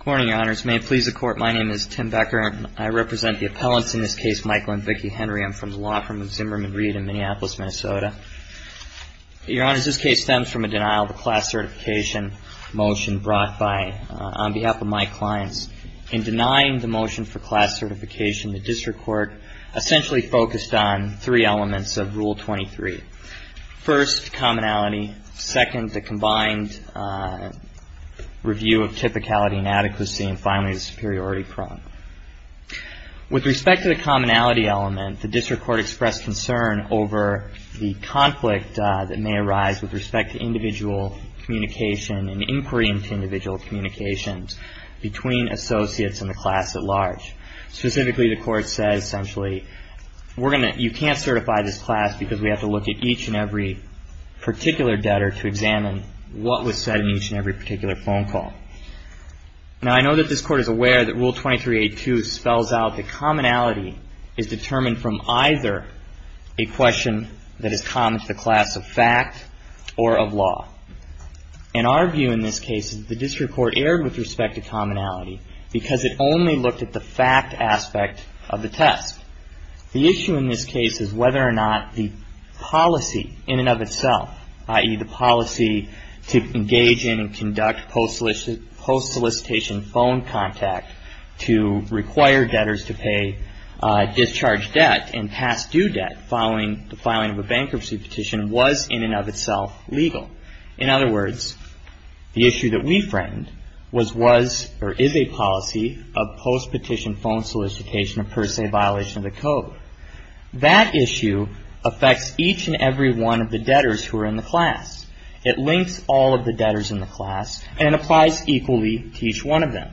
Good morning, Your Honors. May it please the Court, my name is Tim Becker, and I represent the appellants in this case, Michael and Vicki Henry. I'm from the Law Firm of Zimmerman Reed in Minneapolis, Minnesota. Your Honors, this case stems from a denial of the class certification motion brought by, on behalf of my clients. In denying the motion for class certification, the District Court essentially focused on three elements of Rule 23. First, commonality. Second, the combined review of typicality and adequacy. And finally, the superiority prong. With respect to the commonality element, the District Court expressed concern over the conflict that may arise with respect to individual communication and inquiry into individual communications between associates and the class at large. Specifically, the Court said essentially, you can't certify this class because we have to look at each and every particular debtor to examine what was said in each and every particular phone call. Now, I know that this Court is aware that Rule 23.82 spells out that commonality is determined from either a question that is common to the class of fact or of law. In our view in this case, the District Court erred with respect to commonality because it only looked at the fact aspect of the test. The issue in this case is whether or not the policy in and of itself, i.e. the policy to engage in and conduct post solicitation phone contact to require debtors to pay discharge debt and pass due debt following the filing of a bankruptcy petition, was in and of itself legal. In other words, the issue that we framed was, was or is a policy of post petition phone solicitation of per se violation of the code. That issue affects each and every one of the debtors who are in the class. It links all of the debtors in the class and applies equally to each one of them.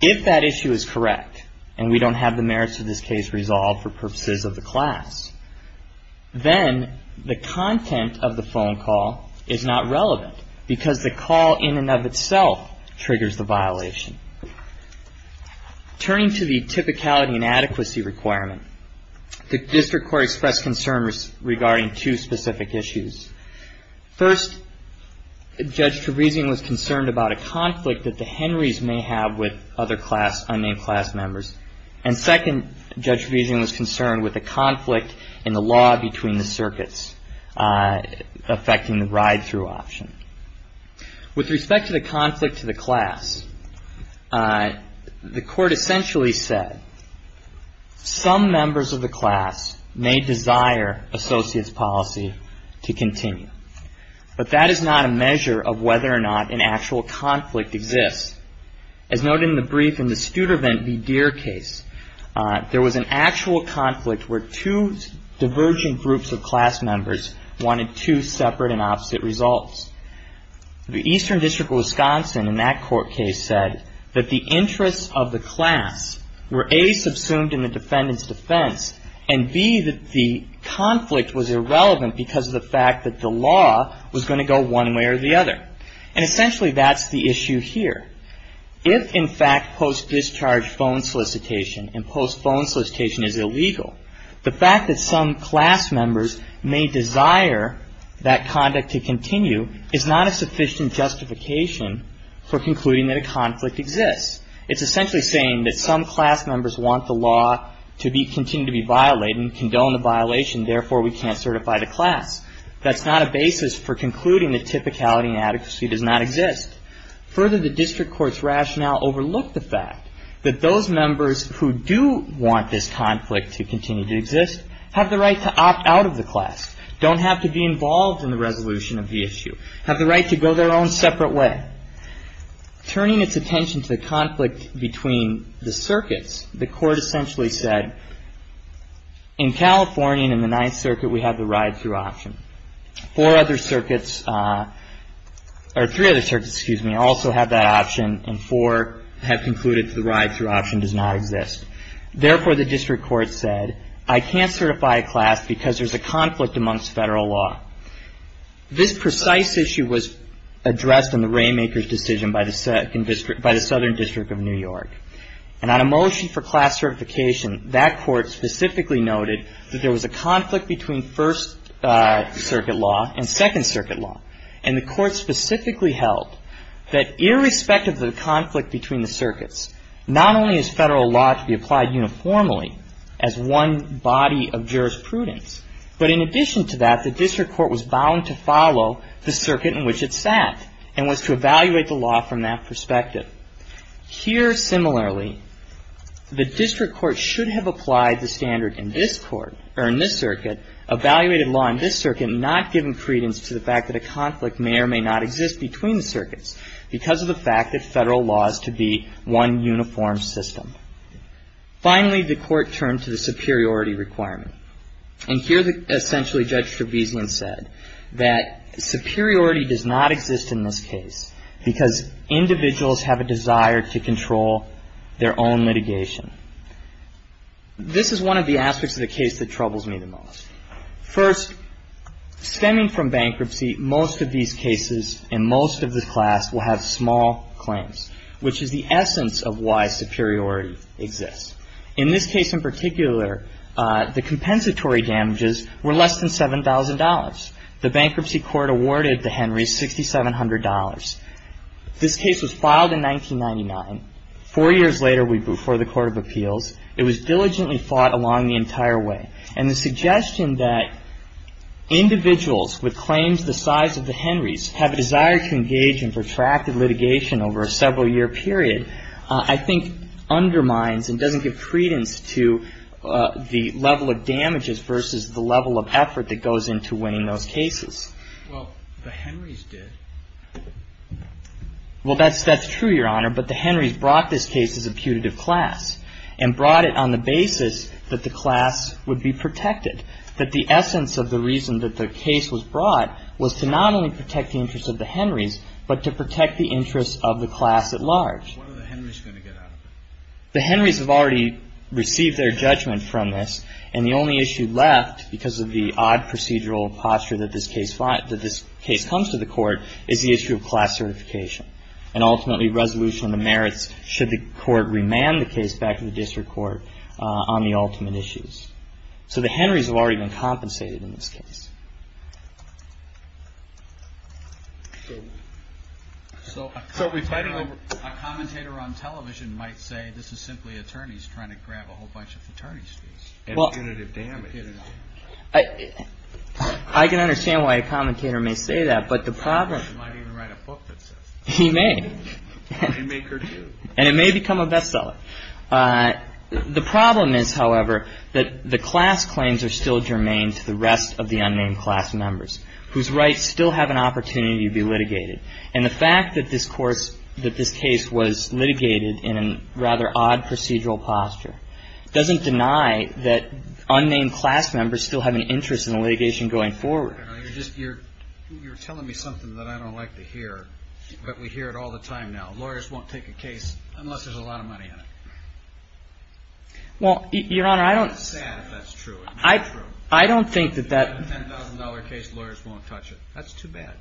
If that issue is correct and we don't have the merits of this case resolved for purposes of the class, then the content of the phone call is not relevant because the call in and of itself triggers the violation. Turning to the typicality and adequacy requirement, the District Court expressed concern regarding two specific issues. First, Judge Trevesian was concerned about a conflict that the Henrys may have with other class, unnamed class members. And second, Judge Trevesian was concerned with a conflict in the law between the circuits affecting the ride-through option. With respect to the conflict to the class, the court essentially said, some members of the class may desire associate's policy to continue. But that is not a measure of whether or not an actual conflict exists. As noted in the brief in the Studervant v. Deere case, there was an actual conflict where two divergent groups of class members wanted two separate and opposite results. The Eastern District of Wisconsin in that court case said that the interests of the class were A, subsumed in the defendant's defense, and B, that the conflict was irrelevant because of the fact that the law was going to go one way or the other. And essentially, that's the issue here. If, in fact, post-discharge phone solicitation and post-phone solicitation is illegal, the fact that some class members may desire that conduct to continue is not a sufficient justification for concluding that a conflict exists. It's essentially saying that some class members want the law to continue to be violated and condone the violation. Therefore, we can't certify the class. That's not a basis for concluding that typicality and adequacy does not exist. Further, the district court's rationale overlooked the fact that those members who do want this conflict to continue to exist have the right to opt out of the class, don't have to be involved in the resolution of the issue, have the right to go their own separate way. Turning its attention to the conflict between the circuits, the court essentially said, in California, in the Ninth Circuit, we have the ride-through option. Four other circuits, or three other circuits, excuse me, also have that option, and four have concluded that the ride-through option does not exist. Therefore, the district court said, I can't certify a class because there's a conflict amongst Federal law. This precise issue was addressed in the Rainmaker's decision by the Southern District of New York. And on a motion for class certification, that court specifically noted that there was a conflict between First Circuit law and Second Circuit law. And the court specifically held that irrespective of the conflict between the circuits, not only is Federal law to be applied uniformly as one body of jurisprudence, but in addition to that, the district court was bound to follow the circuit in which it sat and was to evaluate the law from that perspective. Here, similarly, the district court should have applied the standard in this court, or in this circuit, evaluated law in this circuit, and not given credence to the fact that a conflict may or may not exist between the circuits because of the fact that Federal law is to be one uniform system. Finally, the court turned to the superiority requirement. And here, essentially, Judge Trevisan said that superiority does not exist in this case because individuals have a desire to control their own litigation. This is one of the aspects of the case that troubles me the most. First, stemming from bankruptcy, most of these cases in most of the class will have small claims, which is the essence of why superiority exists. In this case in particular, the compensatory damages were less than $7,000. The bankruptcy court awarded the Henrys $6,700. This case was filed in 1999. Four years later, we moved forward to the Court of Appeals. It was diligently fought along the entire way. And the suggestion that individuals with claims the size of the Henrys have a desire to engage in protracted litigation over a several-year period, I think, undermines and doesn't give credence to the level of damages versus the level of effort that goes into winning those cases. Well, the Henrys did. Well, that's true, Your Honor. But the Henrys brought this case as a putative class and brought it on the basis that the class would be protected, that the essence of the reason that the case was brought was to not only protect the interests of the Henrys, but to protect the interests of the class at large. What are the Henrys going to get out of it? The Henrys have already received their judgment from this, and the only issue left, because of the odd procedural posture that this case comes to the court, is the issue of class certification. And ultimately, resolution of the merits should the court remand the case back to the district court on the ultimate issues. So the Henrys have already been compensated in this case. So a commentator on television might say this is simply attorneys trying to grab a whole bunch of attorney's fees. Well, I can understand why a commentator may say that, but the problem is he may. And it may become a bestseller. The problem is, however, that the class claims are still germane to the rest of the unnamed class members, whose rights still have an opportunity to be litigated. And the fact that this case was litigated in a rather odd procedural posture doesn't deny that unnamed class members still have an interest in the litigation going forward. You're telling me something that I don't like to hear, but we hear it all the time now. Lawyers won't take a case unless there's a lot of money in it. Well, Your Honor, I don't... It's sad if that's true. I don't think that that... A $10,000 case, lawyers won't touch it. That's too bad.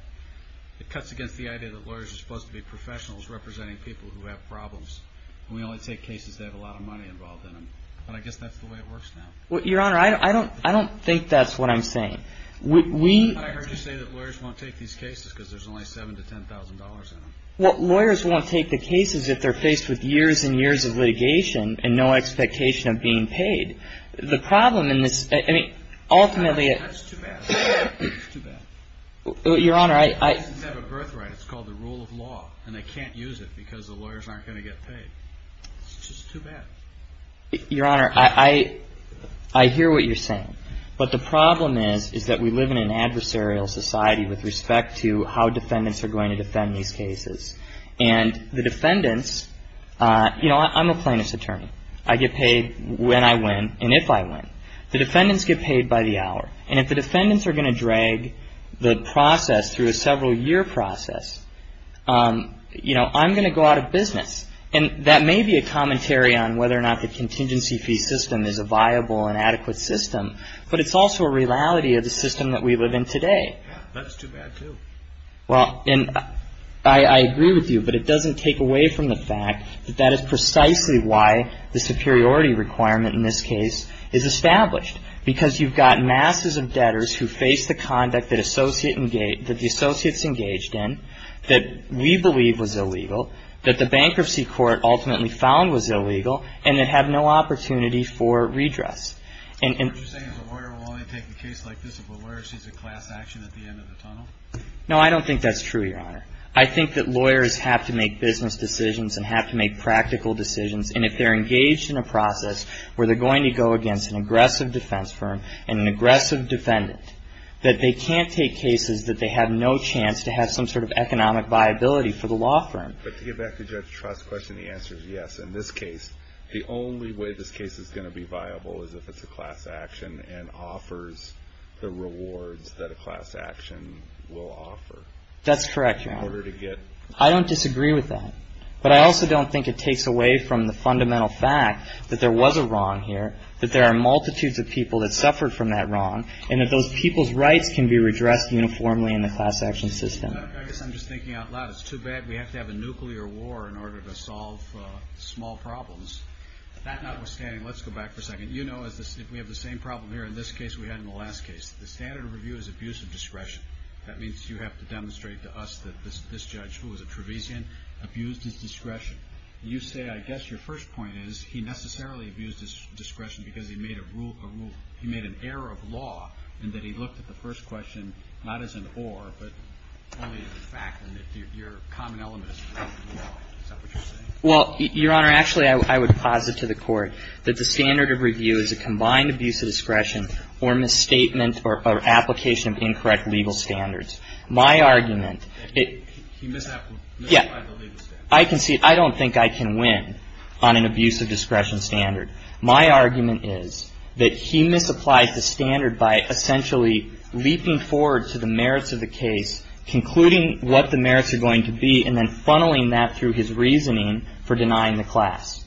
It cuts against the idea that lawyers are supposed to be professionals representing people who have problems. And we only take cases that have a lot of money involved in them. And I guess that's the way it works now. Well, Your Honor, I don't think that's what I'm saying. We... I heard you say that lawyers won't take these cases because there's only $7,000 to $10,000 in them. Well, lawyers won't take the cases if they're faced with years and years of litigation and no expectation of being paid. The problem in this... I mean, ultimately... That's too bad. It's too bad. Your Honor, I... Cases have a birthright. It's called the rule of law. And they can't use it because the lawyers aren't going to get paid. It's just too bad. Your Honor, I hear what you're saying. But the problem is, is that we live in an adversarial society with respect to how defendants are going to defend these cases. And the defendants... You know, I'm a plaintiff's attorney. I get paid when I win and if I win. The defendants get paid by the hour. And if the defendants are going to drag the process through a several-year process, you know, I'm going to go out of business. And that may be a commentary on whether or not the contingency fee system is a viable and adequate system. But it's also a reality of the system that we live in today. That's too bad, too. Well, and I agree with you. But it doesn't take away from the fact that that is precisely why the superiority requirement in this case is established. Because you've got masses of debtors who face the conduct that the associates engaged in that we believe was illegal, that the bankruptcy court ultimately found was illegal, and that have no opportunity for redress. So what you're saying is a lawyer will only take a case like this if a lawyer sees a class action at the end of the tunnel? No, I don't think that's true, Your Honor. I think that lawyers have to make business decisions and have to make practical decisions. And if they're engaged in a process where they're going to go against an aggressive defense firm and an aggressive defendant, that they can't take cases that they have no chance to have some sort of economic viability for the law firm. But to get back to Judge Trott's question, the answer is yes. In this case, the only way this case is going to be viable is if it's a class action and offers the rewards that a class action will offer. That's correct, Your Honor. In order to get... I don't disagree with that. But I also don't think it takes away from the fundamental fact that there was a wrong here, that there are multitudes of people that suffered from that wrong, and that those people's rights can be redressed uniformly in the class action system. I guess I'm just thinking out loud. It's too bad we have to have a nuclear war in order to solve small problems. That notwithstanding, let's go back for a second. You know, we have the same problem here in this case we had in the last case. The standard of review is abuse of discretion. That means you have to demonstrate to us that this judge, who was a Travisian, abused his discretion. You say, I guess your first point is he necessarily abused his discretion because he made an error of law and that he looked at the first question not as an or, but only as a fact and that your common element is wrong. Is that what you're saying? Well, Your Honor, actually I would posit to the Court that the standard of review is a combined abuse of discretion or misstatement or application of incorrect legal standards. My argument... He misapplied the legal standards. Yeah. I don't think I can win on an abuse of discretion standard. My argument is that he misapplied the standard by essentially leaping forward to the merits of the case, concluding what the merits are going to be, and then funneling that through his reasoning for denying the class.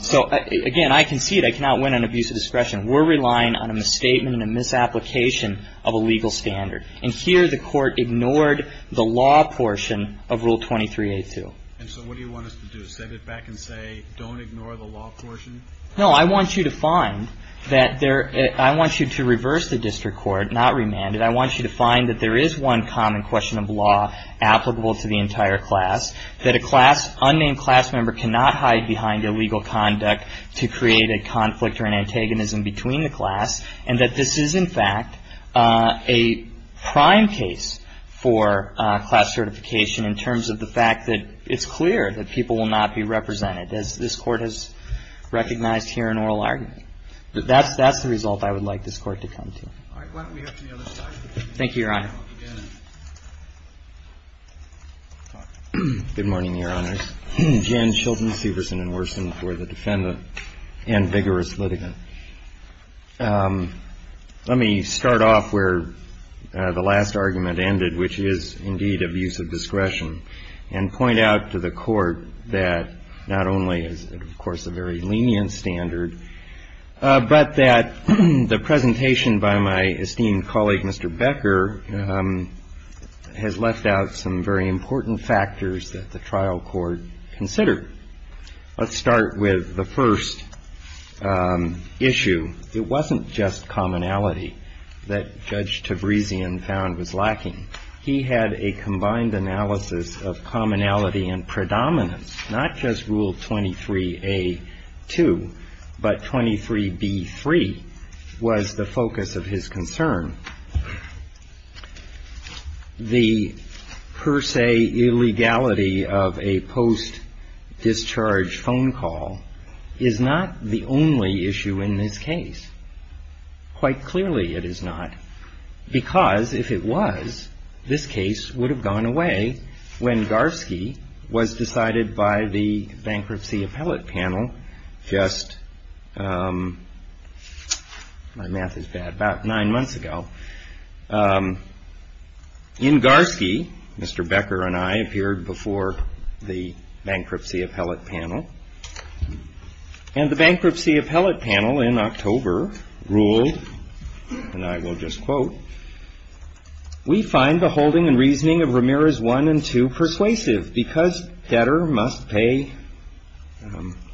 So, again, I concede I cannot win on abuse of discretion. We're relying on a misstatement and a misapplication of a legal standard. And here the Court ignored the law portion of Rule 23-A-2. And so what do you want us to do? Send it back and say, don't ignore the law portion? No, I want you to find that there – I want you to reverse the district court, not remand it. I want you to find that there is one common question of law applicable to the entire class, that a class – unnamed class member cannot hide behind illegal conduct to create a conflict or an antagonism between the class, and that this is, in fact, a prime case for class certification in terms of the fact that it's clear that people will not be represented, as this Court has recognized here in oral argument. That's the result I would like this Court to come to. All right. Why don't we go to the other side? Thank you, Your Honor. Good morning, Your Honors. Jan Chilton, Severson & Worson for the Defendant and Vigorous Litigant. Let me start off where the last argument ended, which is, indeed, abuse of discretion, and point out to the Court that not only is it, of course, a very lenient standard, but that the presentation by my esteemed colleague, Mr. Becker, has left out some very important factors that the trial court considered. Let's start with the first issue. It wasn't just commonality that Judge Tabrisian found was lacking. He had a combined analysis of commonality and predominance, not just Rule 23a.2, but 23b.3 was the focus of his concern. The per se illegality of a post-discharge phone call is not the only issue in this case. Quite clearly it is not, because if it was, this case would have gone away when Garfsky was decided by the bankruptcy appellate panel just about nine months ago. In Garfsky, Mr. Becker and I appeared before the bankruptcy appellate panel, and the bankruptcy appellate panel in October ruled, and I will just quote, We find the holding and reasoning of Ramirez 1 and 2 persuasive. Because debtor must pay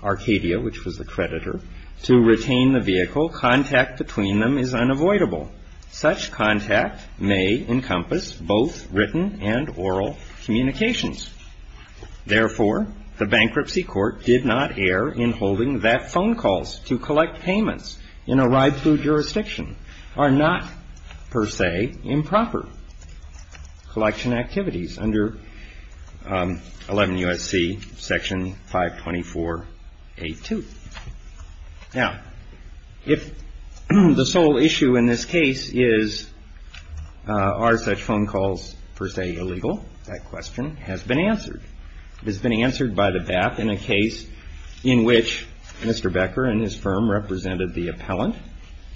Arcadia, which was the creditor, to retain the vehicle, contact between them is unavoidable. Such contact may encompass both written and oral communications. Therefore, the bankruptcy court did not err in holding that phone calls to collect payments in a ride-through jurisdiction are not per se improper collection activities under 11 U.S.C. Section 524.8.2. Now, if the sole issue in this case is are such phone calls per se illegal, that question has been answered. It has been answered by the BAP in a case in which Mr. Becker and his firm represented the appellant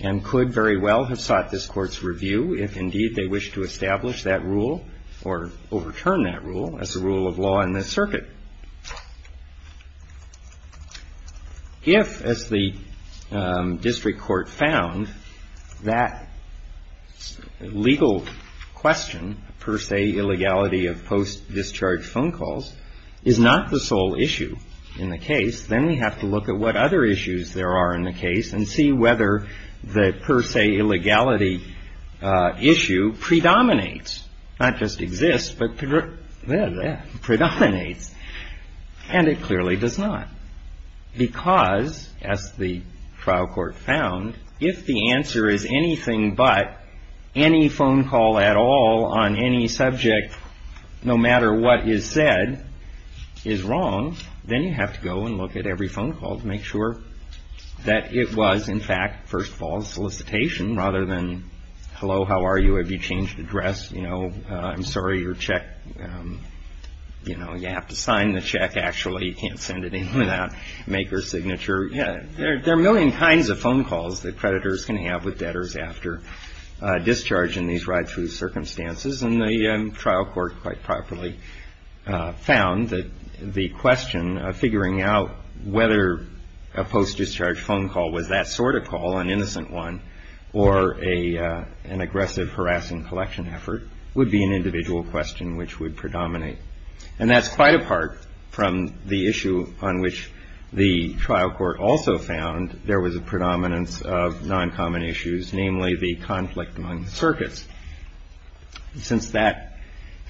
and could very well have sought this Court's review if indeed they wish to establish that rule or overturn that rule as a rule of law in this circuit. If, as the district court found, that legal question per se illegality of post-discharge phone calls is not the sole issue in the case, then we have to look at what other issues there are in the case and see whether the per se illegality issue predominates, not just exists, but predominates. And it clearly does not, because, as the trial court found, if the answer is anything but any phone call at all on any subject, no matter what is said is wrong, then you have to go and look at every phone call to make sure that it was, in fact, first of all, solicitation rather than, hello, how are you? Have you changed address? You know, I'm sorry, your check, you know, you have to sign the check. Actually, you can't send it in without maker's signature. Yeah, there are a million kinds of phone calls that creditors can have with debtors after discharge in these ride-through circumstances. And the trial court quite properly found that the question of figuring out whether a post-discharge phone call was that sort of call, an innocent one, or an aggressive harassing collection effort, would be an individual question which would predominate. And that's quite apart from the issue on which the trial court also found there was a predominance of non-common issues, namely the conflict among the circuits. Since that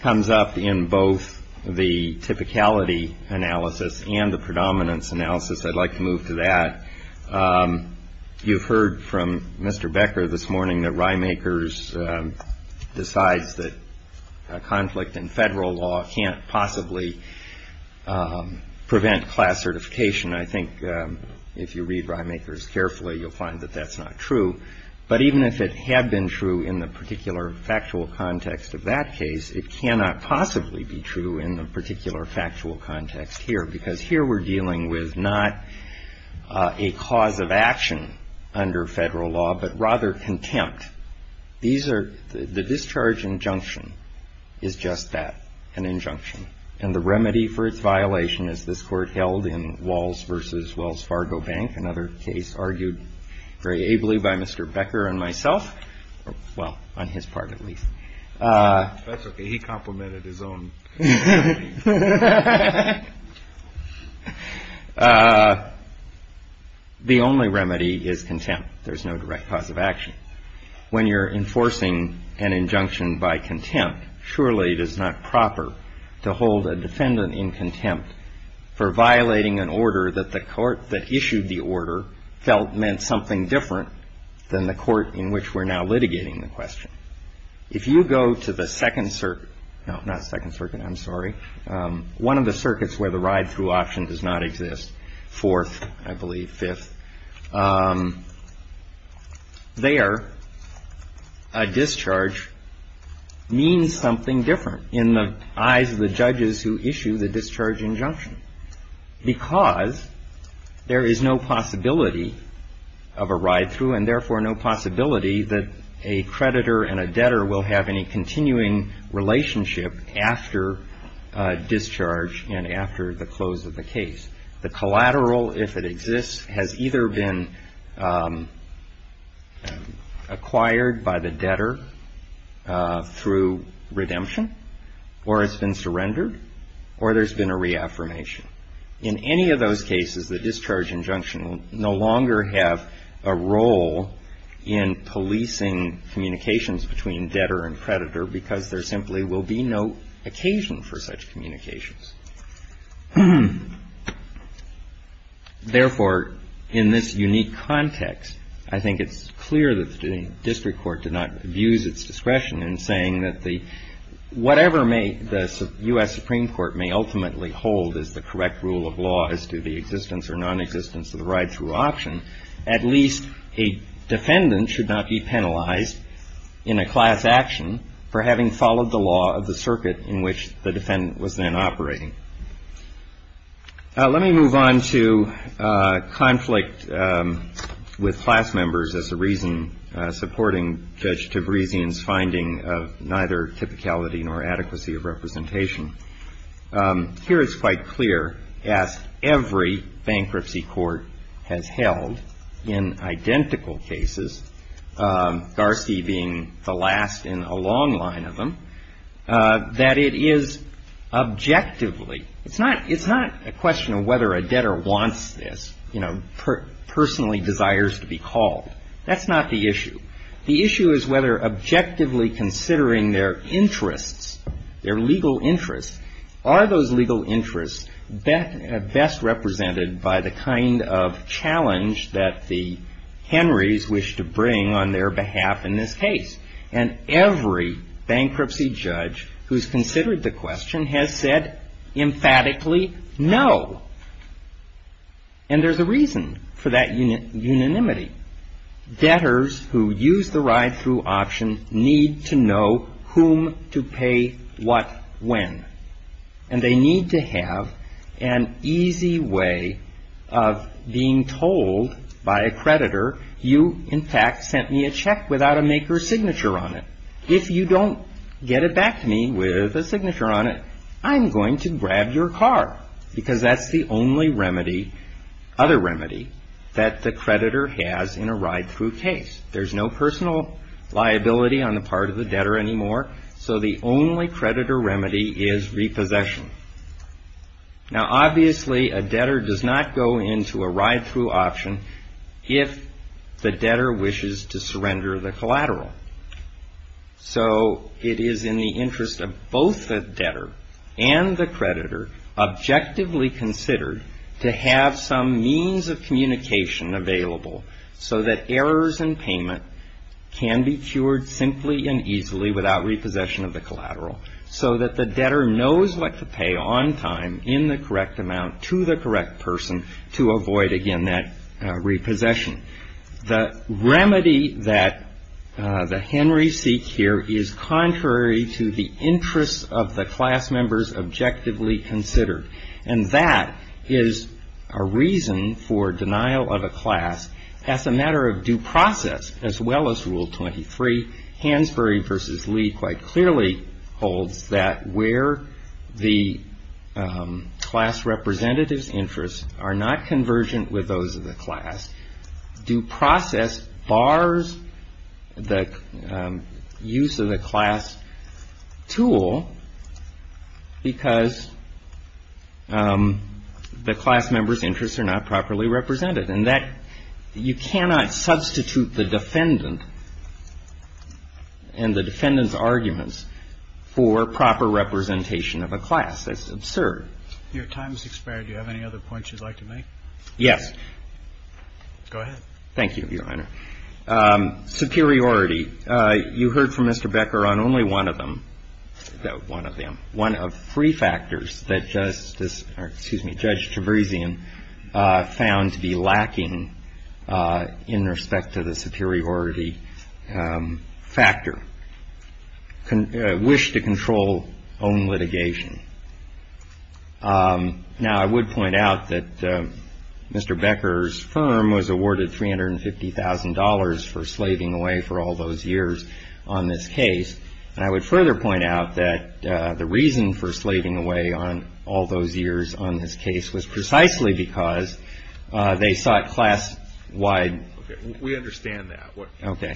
comes up in both the typicality analysis and the predominance analysis, I'd like to move to that. You've heard from Mr. Becker this morning that Rymakers decides that a conflict in federal law can't possibly prevent class certification. I think if you read Rymakers carefully, you'll find that that's not true. But even if it had been true in the particular factual context of that case, it cannot possibly be true in the particular factual context here, because here we're dealing with not a cause of action under federal law, but rather contempt. The discharge injunction is just that, an injunction. And the remedy for its violation, as this Court held in Walls v. Wells Fargo Bank, another case argued very ably by Mr. Becker and myself, well, on his part at least. That's okay. He complimented his own. The only remedy is contempt. There's no direct cause of action. When you're enforcing an injunction by contempt, surely it is not proper to hold a defendant in contempt for violating an order that the court that issued the order felt meant something different than the court in which we're now litigating the question. If you go to the Second Circuit, no, not Second Circuit, I'm sorry, one of the circuits where the ride-through option does not exist, Fourth, I believe Fifth, there a discharge means something different in the eyes of the judges who issue the discharge injunction, because there is no possibility of a ride-through and therefore no possibility that a creditor and a debtor will have any continuing relationship after discharge and after the close of the case. The collateral, if it exists, has either been acquired by the debtor through redemption or has been surrendered or there's been a reaffirmation. In any of those cases, the discharge injunction will no longer have a role in policing communications between debtor and creditor because there simply will be no occasion for such communications. Therefore, in this unique context, I think it's clear that the district court did not abuse its discretion in saying that whatever may the U.S. Supreme Court may ultimately hold as the correct rule of law as to the existence or nonexistence of the ride-through option, at least a defendant should not be penalized in a class action for having followed the law of the circuit in which the defendant was then operating. Let me move on to conflict with class members as a reason supporting Judge Tabrisian's finding of neither typicality nor adequacy of representation. Here it's quite clear, as every bankruptcy court has held in identical cases, Garci being the last in a long line of them, that it is objectively, it's not a question of whether a debtor wants this, you know, personally desires to be called. That's not the issue. The issue is whether objectively considering their interests, their legal interests, are those legal interests best represented by the kind of challenge that the Henrys wish to bring on their behalf in this case? And every bankruptcy judge who's considered the question has said emphatically no. And there's a reason for that unanimity. Debtors who use the ride-through option need to know whom to pay what when. And they need to have an easy way of being told by a creditor, you, in fact, sent me a check without a maker's signature on it. If you don't get it back to me with a signature on it, I'm going to grab your car. Because that's the only remedy, other remedy, that the creditor has in a ride-through case. There's no personal liability on the part of the debtor anymore. So the only creditor remedy is repossession. Now, obviously, a debtor does not go into a ride-through option if the debtor wishes to surrender the collateral. So it is in the interest of both the debtor and the creditor, objectively considered, to have some means of communication available so that errors in payment can be cured simply and easily without repossession of the collateral so that the debtor knows what to pay on time in the correct amount to the correct person to avoid, again, that repossession. The remedy that the Henrys seek here is contrary to the interests of the class members objectively considered. And that is a reason for denial of a class as a matter of due process, as well as Rule 23. Hansberry v. Lee quite clearly holds that where the class representative's interests are not convergent with those of the class, due process bars the use of the class tool because the class members' interests are not properly represented. And that you cannot substitute the defendant and the defendant's arguments for proper representation of a class. That's absurd. Your time has expired. Do you have any other points you'd like to make? Yes. Go ahead. Thank you, Your Honor. Superiority. You heard from Mr. Becker on only one of them, one of them, one of three factors that Justice or, excuse me, found to be lacking in respect to the superiority factor. Wish to control own litigation. Now, I would point out that Mr. Becker's firm was awarded $350,000 for slaving away for all those years on this case. And I would further point out that the reason for slaving away on all those years on this case was precisely because they sought class-wide. Okay. We understand that. Okay.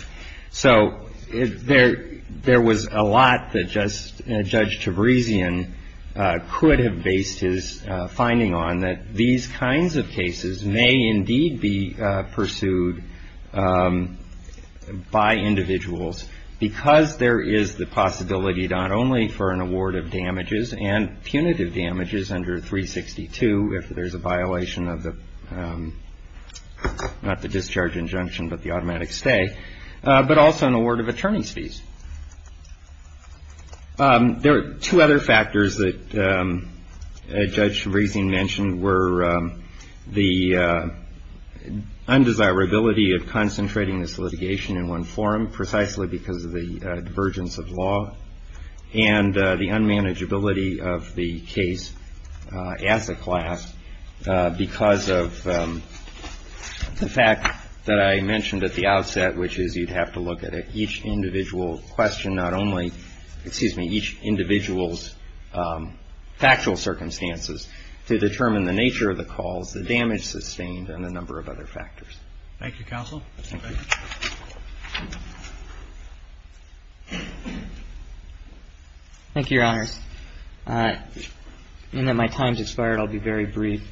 So there was a lot that Judge Tabrisian could have based his finding on, that these kinds of cases may indeed be pursued by individuals because there is the possibility not only for an award of damages and punitive damages under 362 if there's a violation of the, not the discharge injunction, but the automatic stay, but also an award of attorney's fees. There are two other factors that Judge Tabrisian mentioned were the undesirability of concentrating this litigation in one form, precisely because of the divergence of law, and the unmanageability of the case as a class because of the fact that I mentioned at the outset, which is you'd have to look at each individual question, not only, excuse me, each individual's factual circumstances to determine the nature of the calls, the damage sustained, and a number of other factors. Thank you, Counsel. Thank you. Thank you, Your Honors. In that my time's expired, I'll be very brief.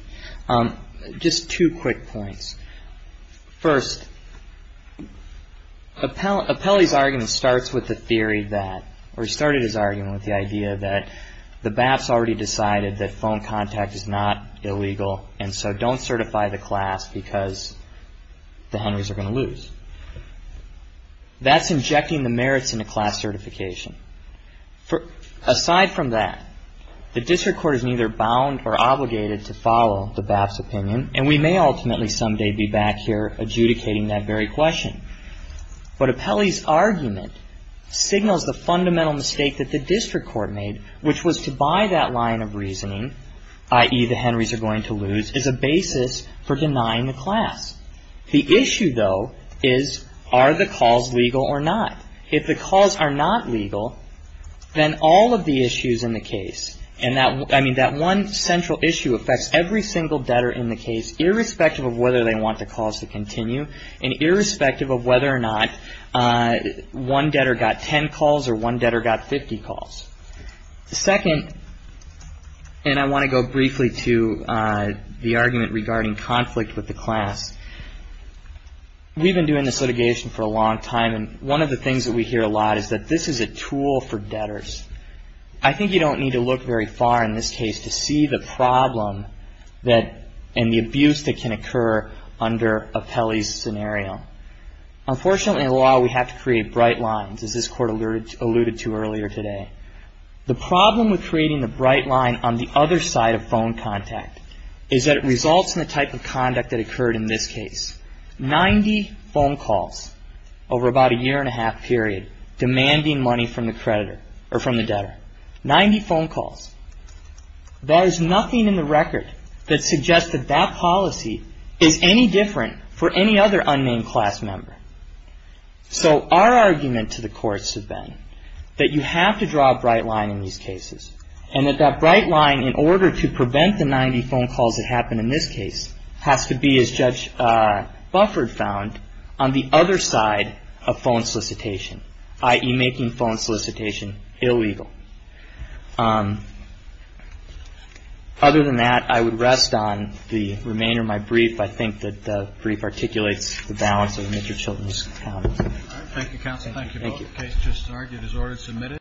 Just two quick points. First, Appelli's argument starts with the theory that, or he started his argument with the idea that the BAPs already decided that phone contact is not illegal, and so don't certify the class because the Henrys are going to lose. That's injecting the merits into class certification. Aside from that, the district court is neither bound or obligated to follow the BAPs' opinion, and we may ultimately someday be back here adjudicating that very question. But Appelli's argument signals the fundamental mistake that the district court made, which was to buy that line of reasoning, i.e., the Henrys are going to lose, as a basis for denying the class. The issue, though, is are the calls legal or not? If the calls are not legal, then all of the issues in the case, and that one central issue affects every single debtor in the case, irrespective of whether they want the calls to continue, and irrespective of whether or not one debtor got 10 calls or one debtor got 50 calls. Second, and I want to go briefly to the argument regarding conflict with the class. We've been doing this litigation for a long time, and one of the things that we hear a lot is that this is a tool for debtors. I think you don't need to look very far in this case to see the problem and the abuse that can occur under Appelli's scenario. Unfortunately, in law, we have to create bright lines, as this Court alluded to earlier today. The problem with creating the bright line on the other side of phone contact is that it results in the type of conduct that occurred in this case. 90 phone calls over about a year-and-a-half period demanding money from the creditor, or from the debtor. 90 phone calls. There is nothing in the record that suggests that that policy is any different for any other unnamed class member. So our argument to the courts has been that you have to draw a bright line in these cases, and that that bright line, in order to prevent the 90 phone calls that happened in this case, has to be, as Judge Bufford found, on the other side of phone solicitation, i.e. making phone solicitation illegal. Other than that, I would rest on the remainder of my brief. I think that the brief articulates the balance of Mr. Chilton's counsel. Thank you, counsel. Thank you both. The case just argued is ordered submitted.